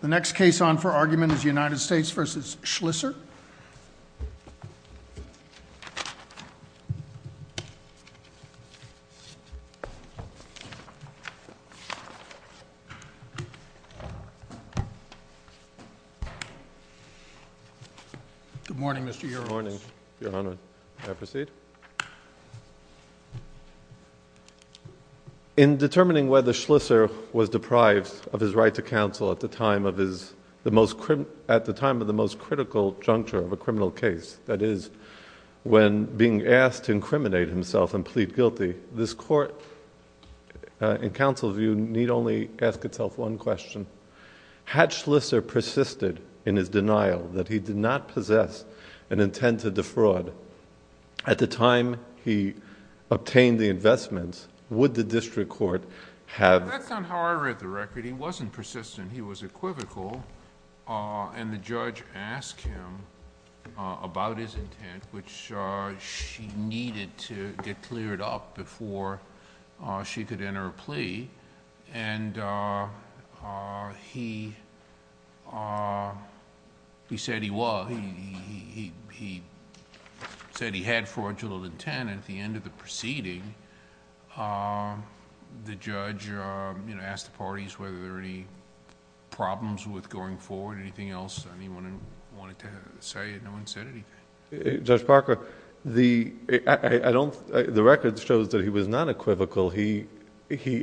The next case on for argument is United States v. Schlisser. Good morning, Mr. Your Honor. Good morning, Your Honor. May I proceed? In determining whether Schlisser was deprived of his right to counsel at the time of the most critical juncture of a criminal case, that is, when being asked to incriminate himself and plead guilty, this Court, in counsel's view, need only ask itself one question. Had Schlisser persisted in his denial that he did not possess an intent to defraud at the time he obtained the investments, would the district court have... That's not how I read the record. He wasn't persistent. He was equivocal. The judge asked him about his intent, which she needed to get cleared up before she could enter a plea. He said he was. He said he had fraudulent intent, and at the end of the proceeding, the judge asked the parties whether there were any problems with going forward. Anything else anyone wanted to say? No one said anything. Judge Parker, the record shows that he was not equivocal. He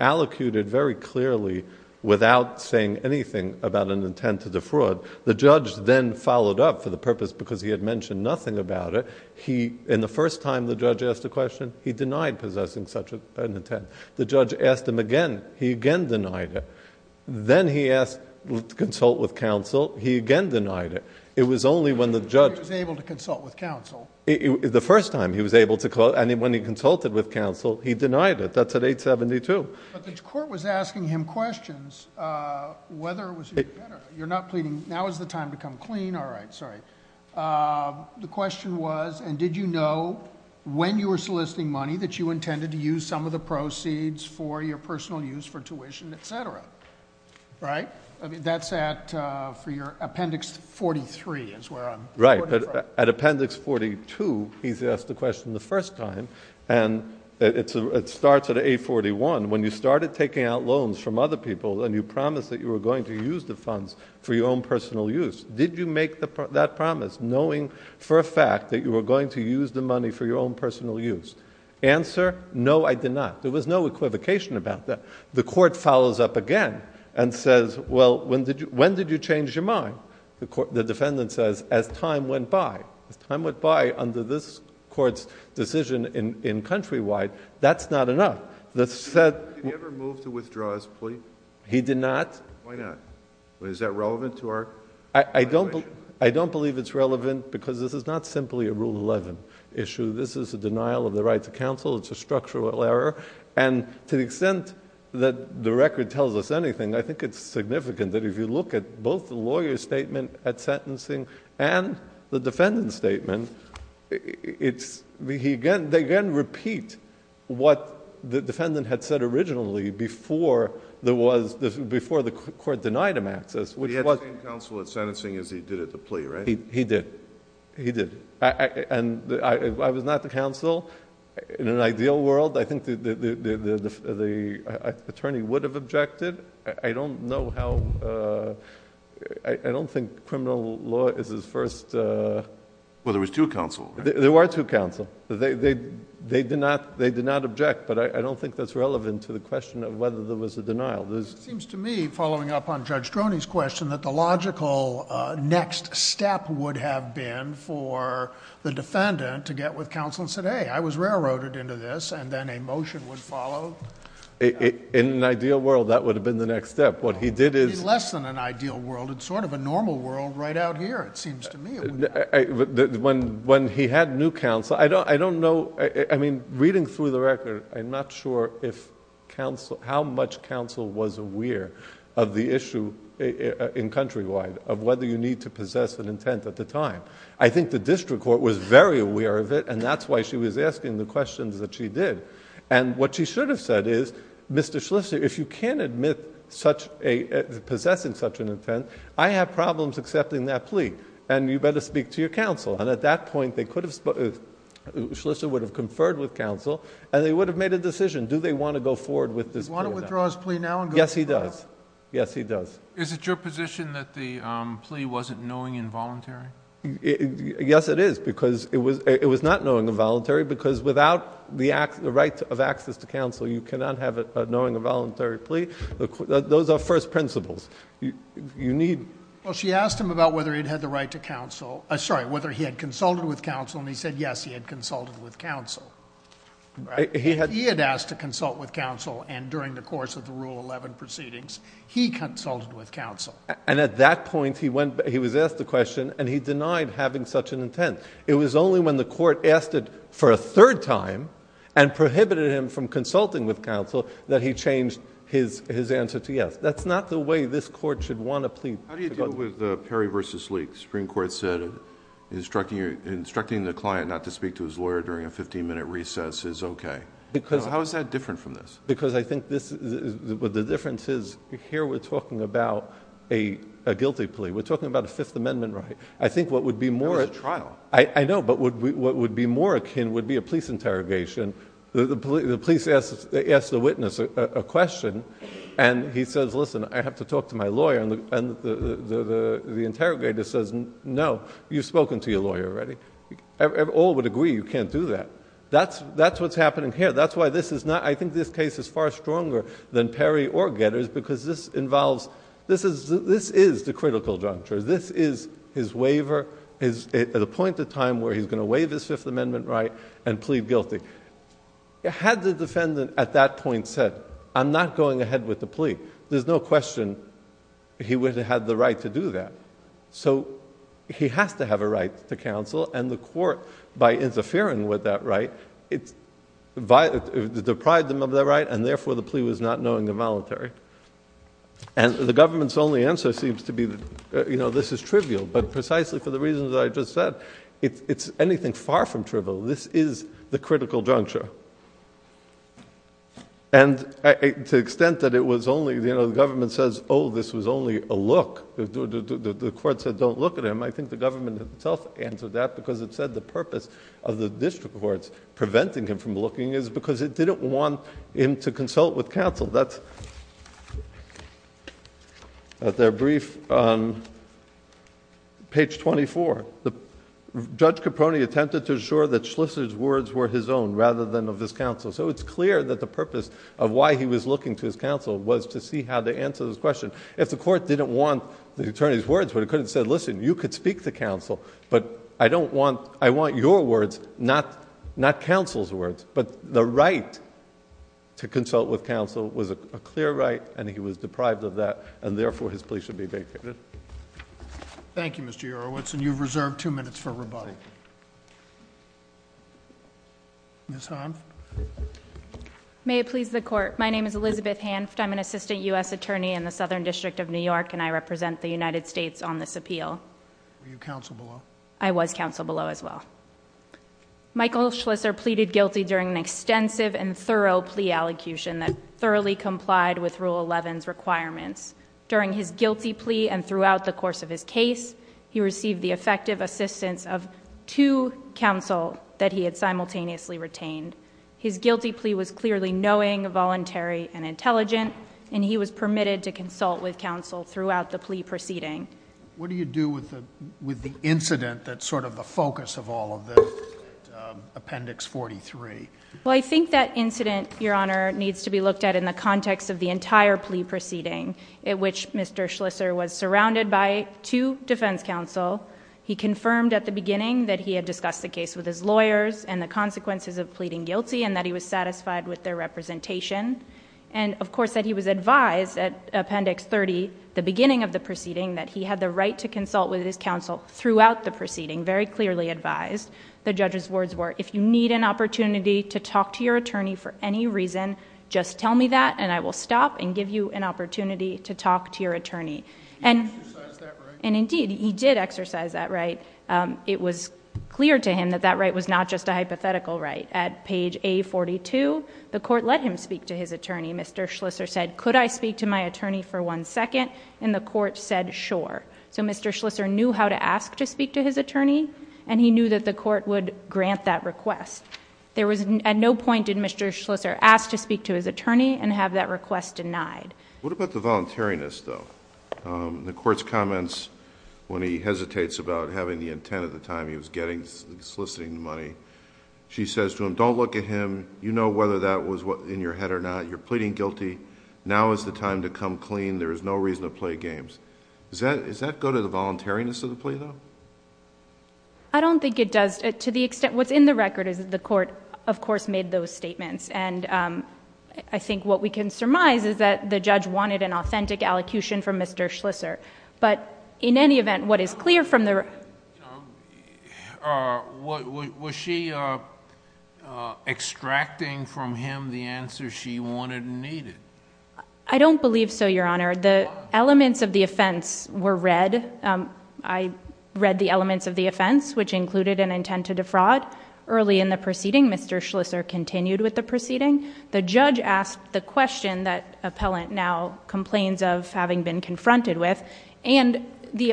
allocated very clearly without saying anything about an intent to defraud. The judge then followed up for the purpose because he had mentioned nothing about it. In the first time the judge asked a question, he denied possessing such an intent. The judge asked him again. He again denied it. Then he asked to consult with counsel. He again denied it. It was only when the judge... He was able to consult with counsel. The first time he was able to consult, and when he consulted with counsel, he denied it. That's at 872. But the court was asking him questions, whether it was... You're not pleading. Now is the time to come clean. All right. Sorry. The question was, and did you know when you were soliciting money that you intended to use some of the proceeds for your personal use for tuition, etc.? Right. That's for your Appendix 43 is where I'm... Right. At Appendix 42, he's asked the question the first time, and it starts at 841. When you started taking out loans from other people and you promised that you were going to use the funds for your own personal use, did you make that promise knowing for a fact that you were going to use the money for your own personal use? Answer, no, I did not. There was no equivocation about that. The court follows up again and says, well, when did you change your mind? The defendant says, as time went by. As time went by under this court's decision in Countrywide, that's not enough. Did he ever move to withdraw his plea? He did not. Why not? Is that relevant to our situation? I don't believe it's relevant because this is not simply a Rule 11 issue. This is a denial of the right to counsel. It's a structural error. To the extent that the record tells us anything, I think it's significant that if you look at both the lawyer's statement at sentencing and the defendant's statement, they again repeat what the defendant had said originally before the court denied him access. He had the same counsel at sentencing as he did at the plea, right? He did. He did. I was not the counsel. In an ideal world, I think the attorney would have objected. I don't know how... I don't think criminal law is his first... Well, there was two counsel. There were two counsel. They did not object, but I don't think that's relevant to the question of whether there was a denial. It seems to me, following up on Judge Droney's question, that the logical next step would have been for the defendant to get with counsel and said, hey, I was railroaded into this, and then a motion would follow. In an ideal world, that would have been the next step. What he did is... It's less than an ideal world. It's sort of a normal world right out here, it seems to me. When he had new counsel, I don't know... I mean, reading through the record, I'm not sure how much counsel was aware of the issue in Countrywide, of whether you need to possess an intent at the time. I think the district court was very aware of it, and that's why she was asking the questions that she did. What she should have said is, Mr. Schlissel, if you can't admit possessing such an intent, I have problems accepting that plea. You better speak to your counsel. At that point, Schlissel would have conferred with counsel, and they would have made a decision. Do they want to go forward with this plea? Do you want to withdraw his plea now and go forward? Yes, he does. Yes, he does. Is it your position that the plea wasn't knowing and voluntary? Yes, it is, because it was not knowing and voluntary, because without the right of access to counsel, you cannot have a knowing and voluntary plea. Those are first principles. Well, she asked him about whether he had consulted with counsel, and he said yes, he had consulted with counsel. He had asked to consult with counsel, and during the course of the Rule 11 proceedings, he consulted with counsel. And at that point, he was asked the question, and he denied having such an intent. It was only when the court asked it for a third time and prohibited him from consulting with counsel that he changed his answer to yes. That's not the way this court should want to plead. How do you deal with Perry v. Leek? The Supreme Court said instructing the client not to speak to his lawyer during a 15-minute recess is okay. How is that different from this? Because I think the difference is, here we're talking about a guilty plea. We're talking about a Fifth Amendment right. I think what would be more... That was a trial. I know, but what would be more akin would be a police interrogation. The police asks the witness a question, and he says, listen, I have to talk to my lawyer. And the interrogator says, no, you've spoken to your lawyer already. All would agree you can't do that. That's what's happening here. That's why this is not... I think this case is far stronger than Perry or Getter's because this involves... This is the critical juncture. This is his waiver at a point in time where he's going to waive his Fifth Amendment right and plead guilty. Had the defendant at that point said, I'm not going ahead with the plea, there's no question he would have had the right to do that. So he has to have a right to counsel, and the court, by interfering with that right, it's deprived him of that right, and therefore the plea was not knowing the voluntary. And the government's only answer seems to be, you know, this is trivial, but precisely for the reasons that I just said, it's anything far from trivial. This is the critical juncture. And to the extent that it was only... You know, the government says, oh, this was only a look. The court said don't look at him. I think the government itself answered that because it said the purpose of the district courts preventing him from looking is because it didn't want him to consult with counsel. That's at their brief on page 24. Judge Caproni attempted to assure that Schlissel's words were his own rather than of his counsel. So it's clear that the purpose of why he was looking to his counsel was to see how to answer this question. If the court didn't want the attorney's words, but it could have said, listen, you could speak to counsel, but I don't want... I want your words, not counsel's words. But the right to consult with counsel was a clear right, and he was deprived of that, and therefore his plea should be vacated. Thank you, Mr. Yourowitz, and you've reserved two minutes for rebuttal. Ms. Hanft. May it please the court, my name is Elizabeth Hanft. I'm an assistant U.S. attorney in the Southern District of New York, and I represent the United States on this appeal. Were you counsel below? I was counsel below as well. Michael Schlissel pleaded guilty during an extensive and thorough plea allocution that thoroughly complied with Rule 11's requirements. During his guilty plea and throughout the course of his case, he received the effective assistance of two counsel that he had simultaneously retained. His guilty plea was clearly knowing, voluntary, and intelligent, and he was permitted to consult with counsel throughout the plea proceeding. What do you do with the incident that's sort of the focus of all of this, Appendix 43? Well, I think that incident, Your Honor, needs to be looked at in the context of the entire plea proceeding in which Mr. Schlissel was surrounded by two defense counsel. He confirmed at the beginning that he had discussed the case with his lawyers and the consequences of pleading guilty and that he was satisfied with their representation, and of course that he was advised at Appendix 30, the beginning of the proceeding, that he had the right to consult with his counsel throughout the proceeding, very clearly advised. The judge's words were, if you need an opportunity to talk to your attorney for any reason, just tell me that, and I will stop and give you an opportunity to talk to your attorney. He exercised that right? Indeed, he did exercise that right. It was clear to him that that right was not just a hypothetical right. At page A42, the court let him speak to his attorney. Mr. Schlissel said, could I speak to my attorney for one second? And the court said, sure. So Mr. Schlissel knew how to ask to speak to his attorney, and he knew that the court would grant that request. At no point did Mr. Schlissel ask to speak to his attorney and have that request denied. What about the voluntariness, though? The court's comments, when he hesitates about having the intent at the time he was soliciting the money, she says to him, don't look at him. You know whether that was in your head or not. You're pleading guilty. Now is the time to come clean. There is no reason to play games. Does that go to the voluntariness of the plea, though? I don't think it does to the extent... What's in the record is that the court, of course, made those statements, and I think what we can surmise is that the judge wanted an authentic allocution from Mr. Schlissel. But in any event, what is clear from the... Was she extracting from him the answer she wanted and needed? I don't believe so, Your Honor. The elements of the offense were read. I read the elements of the offense, which included an intent to defraud. Early in the proceeding, Mr. Schlissel continued with the proceeding. The judge asked the question that appellant now complains of having been confronted with, and the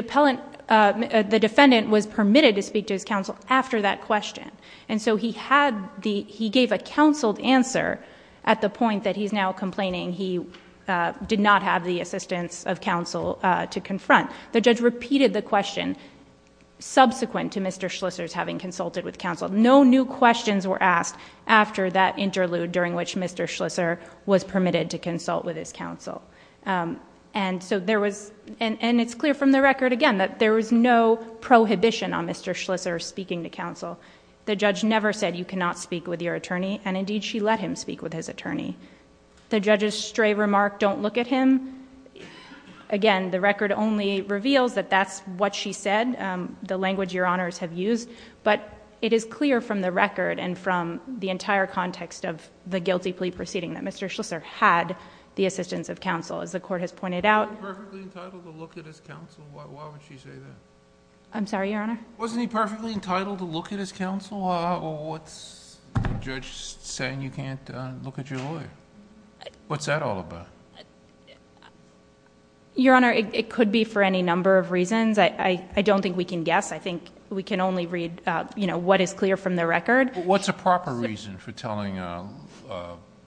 defendant was permitted to speak to his counsel after that question. He gave a counseled answer at the point that he's now complaining he did not have the assistance of counsel to confront. The judge repeated the question subsequent to Mr. Schlissel's having consulted with counsel. No new questions were asked after that interlude during which Mr. Schlissel was permitted to consult with his counsel. It's clear from the record, again, that there was no prohibition on Mr. Schlissel speaking to counsel. The judge never said, you cannot speak with your attorney, and indeed she let him speak with his attorney. The judge's stray remark, don't look at him, again, the record only reveals that that's what she said, the language Your Honors have used, but it is clear from the record and from the entire context of the guilty plea proceeding that Mr. Schlissel had the assistance of counsel, as the court has pointed out. Wasn't he perfectly entitled to look at his counsel? Why would she say that? I'm sorry, Your Honor? Wasn't he perfectly entitled to look at his counsel, or what's the judge saying you can't look at your lawyer? What's that all about? Your Honor, it could be for any number of reasons. I don't think we can guess. I think we can only read what is clear from the record. What's a proper reason for telling a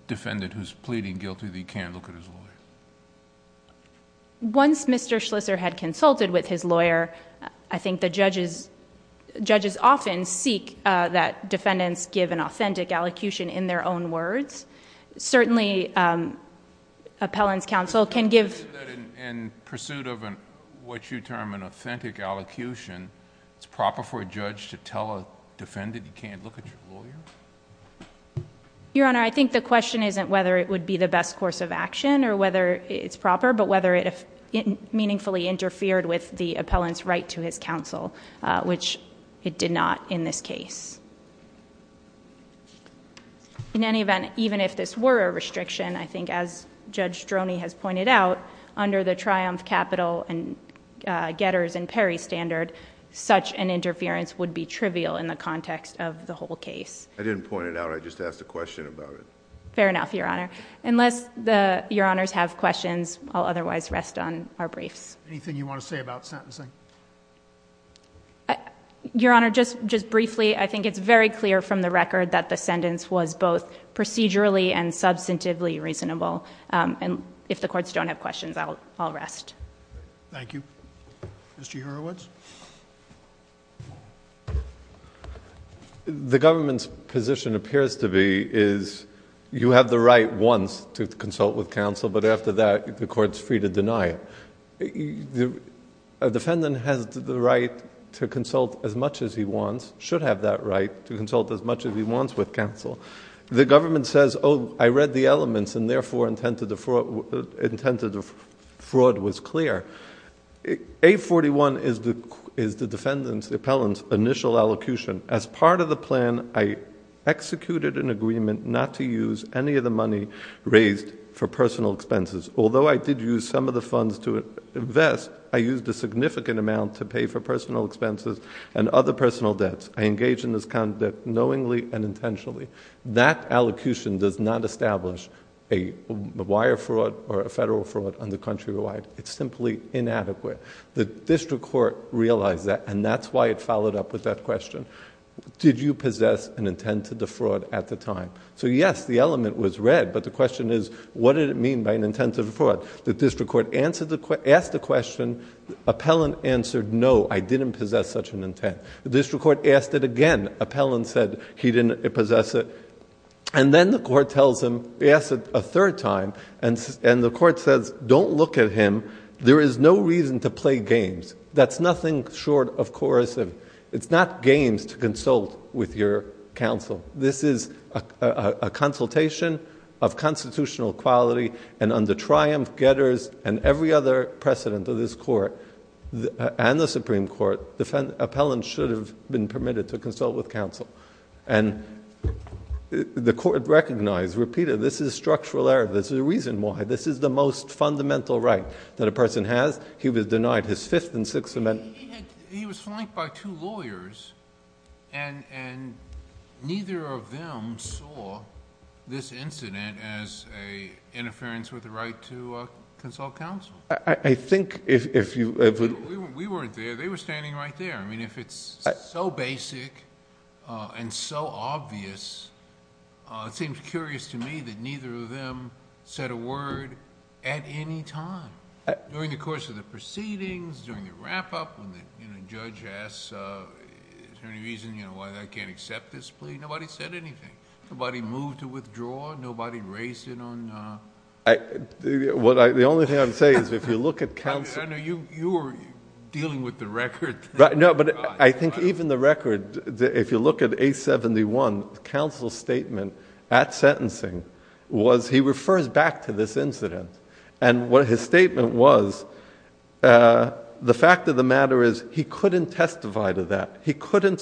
defendant who's pleading guilty that he can't look at his lawyer? Once Mr. Schlissel had consulted with his lawyer, I think the judges often seek that defendants give an authentic allocution in their own words. Certainly, appellant's counsel can give... Do you think that in pursuit of what you term an authentic allocution, it's proper for a judge to tell a defendant he can't look at his lawyer? Your Honor, I think the question isn't whether it would be the best course of action or whether it's proper, but whether it meaningfully interfered with the appellant's right to his counsel, which it did not in this case. In any event, even if this were a restriction, I think as Judge Droney has pointed out, under the Triumph Capital and Getters and Perry standard, such an interference would be trivial in the context of the whole case. I didn't point it out. I just asked a question about it. Fair enough, Your Honor. Unless Your Honors have questions, I'll otherwise rest on our briefs. Anything you want to say about sentencing? Your Honor, just briefly, I think it's very clear from the record that the sentence was both procedurally and substantively reasonable. If the courts don't have questions, I'll rest. Thank you. Mr. Hurwitz? The government's position appears to be is you have the right once to consult with counsel, but after that, the court's free to deny it. A defendant has the right to consult as much as he wants, should have that right, to consult as much as he wants with counsel. The government says, oh, I read the elements and therefore intended the fraud was clear. A41 is the defendant's, the appellant's, initial allocation. As part of the plan, I executed an agreement not to use any of the money raised for personal expenses, although I did use some of the funds to invest, I used a significant amount to pay for personal expenses and other personal debts. I engaged in this conduct knowingly and intentionally. That allocation does not establish a wire fraud or a federal fraud on the countrywide. It's simply inadequate. The district court realized that, and that's why it followed up with that question. Did you possess an intent to defraud at the time? So, yes, the element was read, but the question is, what did it mean by an intent to defraud? The district court asked the question. Appellant answered, no, I didn't possess such an intent. The district court asked it again. Appellant said he didn't possess it. And then the court tells him, asks it a third time, and the court says, don't look at him. There is no reason to play games. That's nothing short of coercive. It's not games to consult with your counsel. This is a consultation of constitutional quality, and under Triumph, Getters, and every other precedent of this court and the Supreme Court, the appellant should have been permitted to consult with counsel. And the court recognized, repeated, this is structural error. There's a reason why. This is the most fundamental right that a person has. He was denied his Fifth and Sixth Amendment. He was flanked by two lawyers, and neither of them saw this incident as an interference with the right to consult counsel. I think if you ever... We weren't there. They were standing right there. I mean, if it's so basic and so obvious, it seems curious to me that neither of them said a word at any time. During the course of the proceedings, during the wrap-up, when the judge asks, is there any reason why I can't accept this plea, nobody said anything. Nobody moved to withdraw. Nobody raised it on... The only thing I would say is if you look at counsel... I know you were dealing with the record. No, but I think even the record, if you look at A71, counsel's statement at sentencing was he refers back to this incident. His statement was the fact of the matter is he couldn't testify to that. He couldn't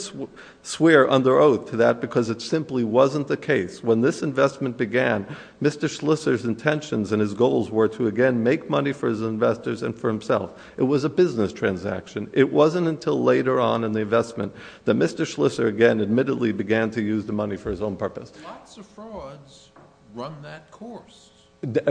swear under oath to that because it simply wasn't the case. When this investment began, Mr. Schlisser's intentions and his goals were to again make money for his investors and for himself. It was a business transaction. It wasn't until later on in the investment that Mr. Schlisser again admittedly began to use the money for his own purpose. Lots of frauds run that course. It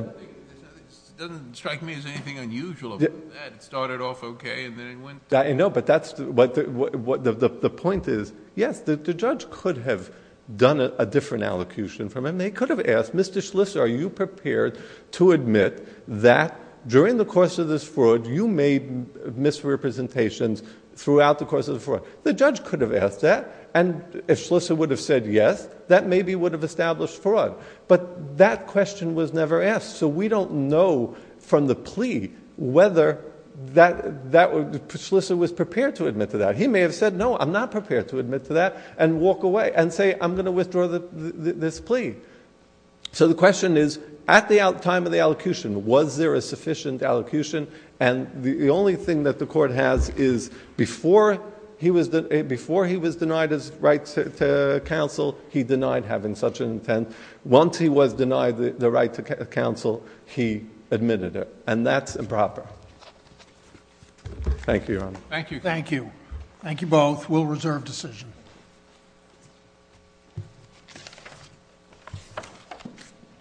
doesn't strike me as anything unusual about that. It started off okay and then it went... No, but the point is, yes, the judge could have done a different allocution from him. They could have asked, Mr. Schlisser, are you prepared to admit that during the course of this fraud you made misrepresentations throughout the course of the fraud? The judge could have asked that and if Schlisser would have said yes, that maybe would have established fraud. But that question was never asked, so we don't know from the plea whether Schlisser was prepared to admit to that. He may have said, no, I'm not prepared to admit to that and walk away and say I'm going to withdraw this plea. So the question is, at the time of the allocution, was there a sufficient allocution? And the only thing that the court has is before he was denied his right to counsel, he denied having such an intent. Once he was denied the right to counsel, he admitted it. And that's improper. Thank you, Your Honor. Thank you. Thank you. Thank you both. We'll reserve decision.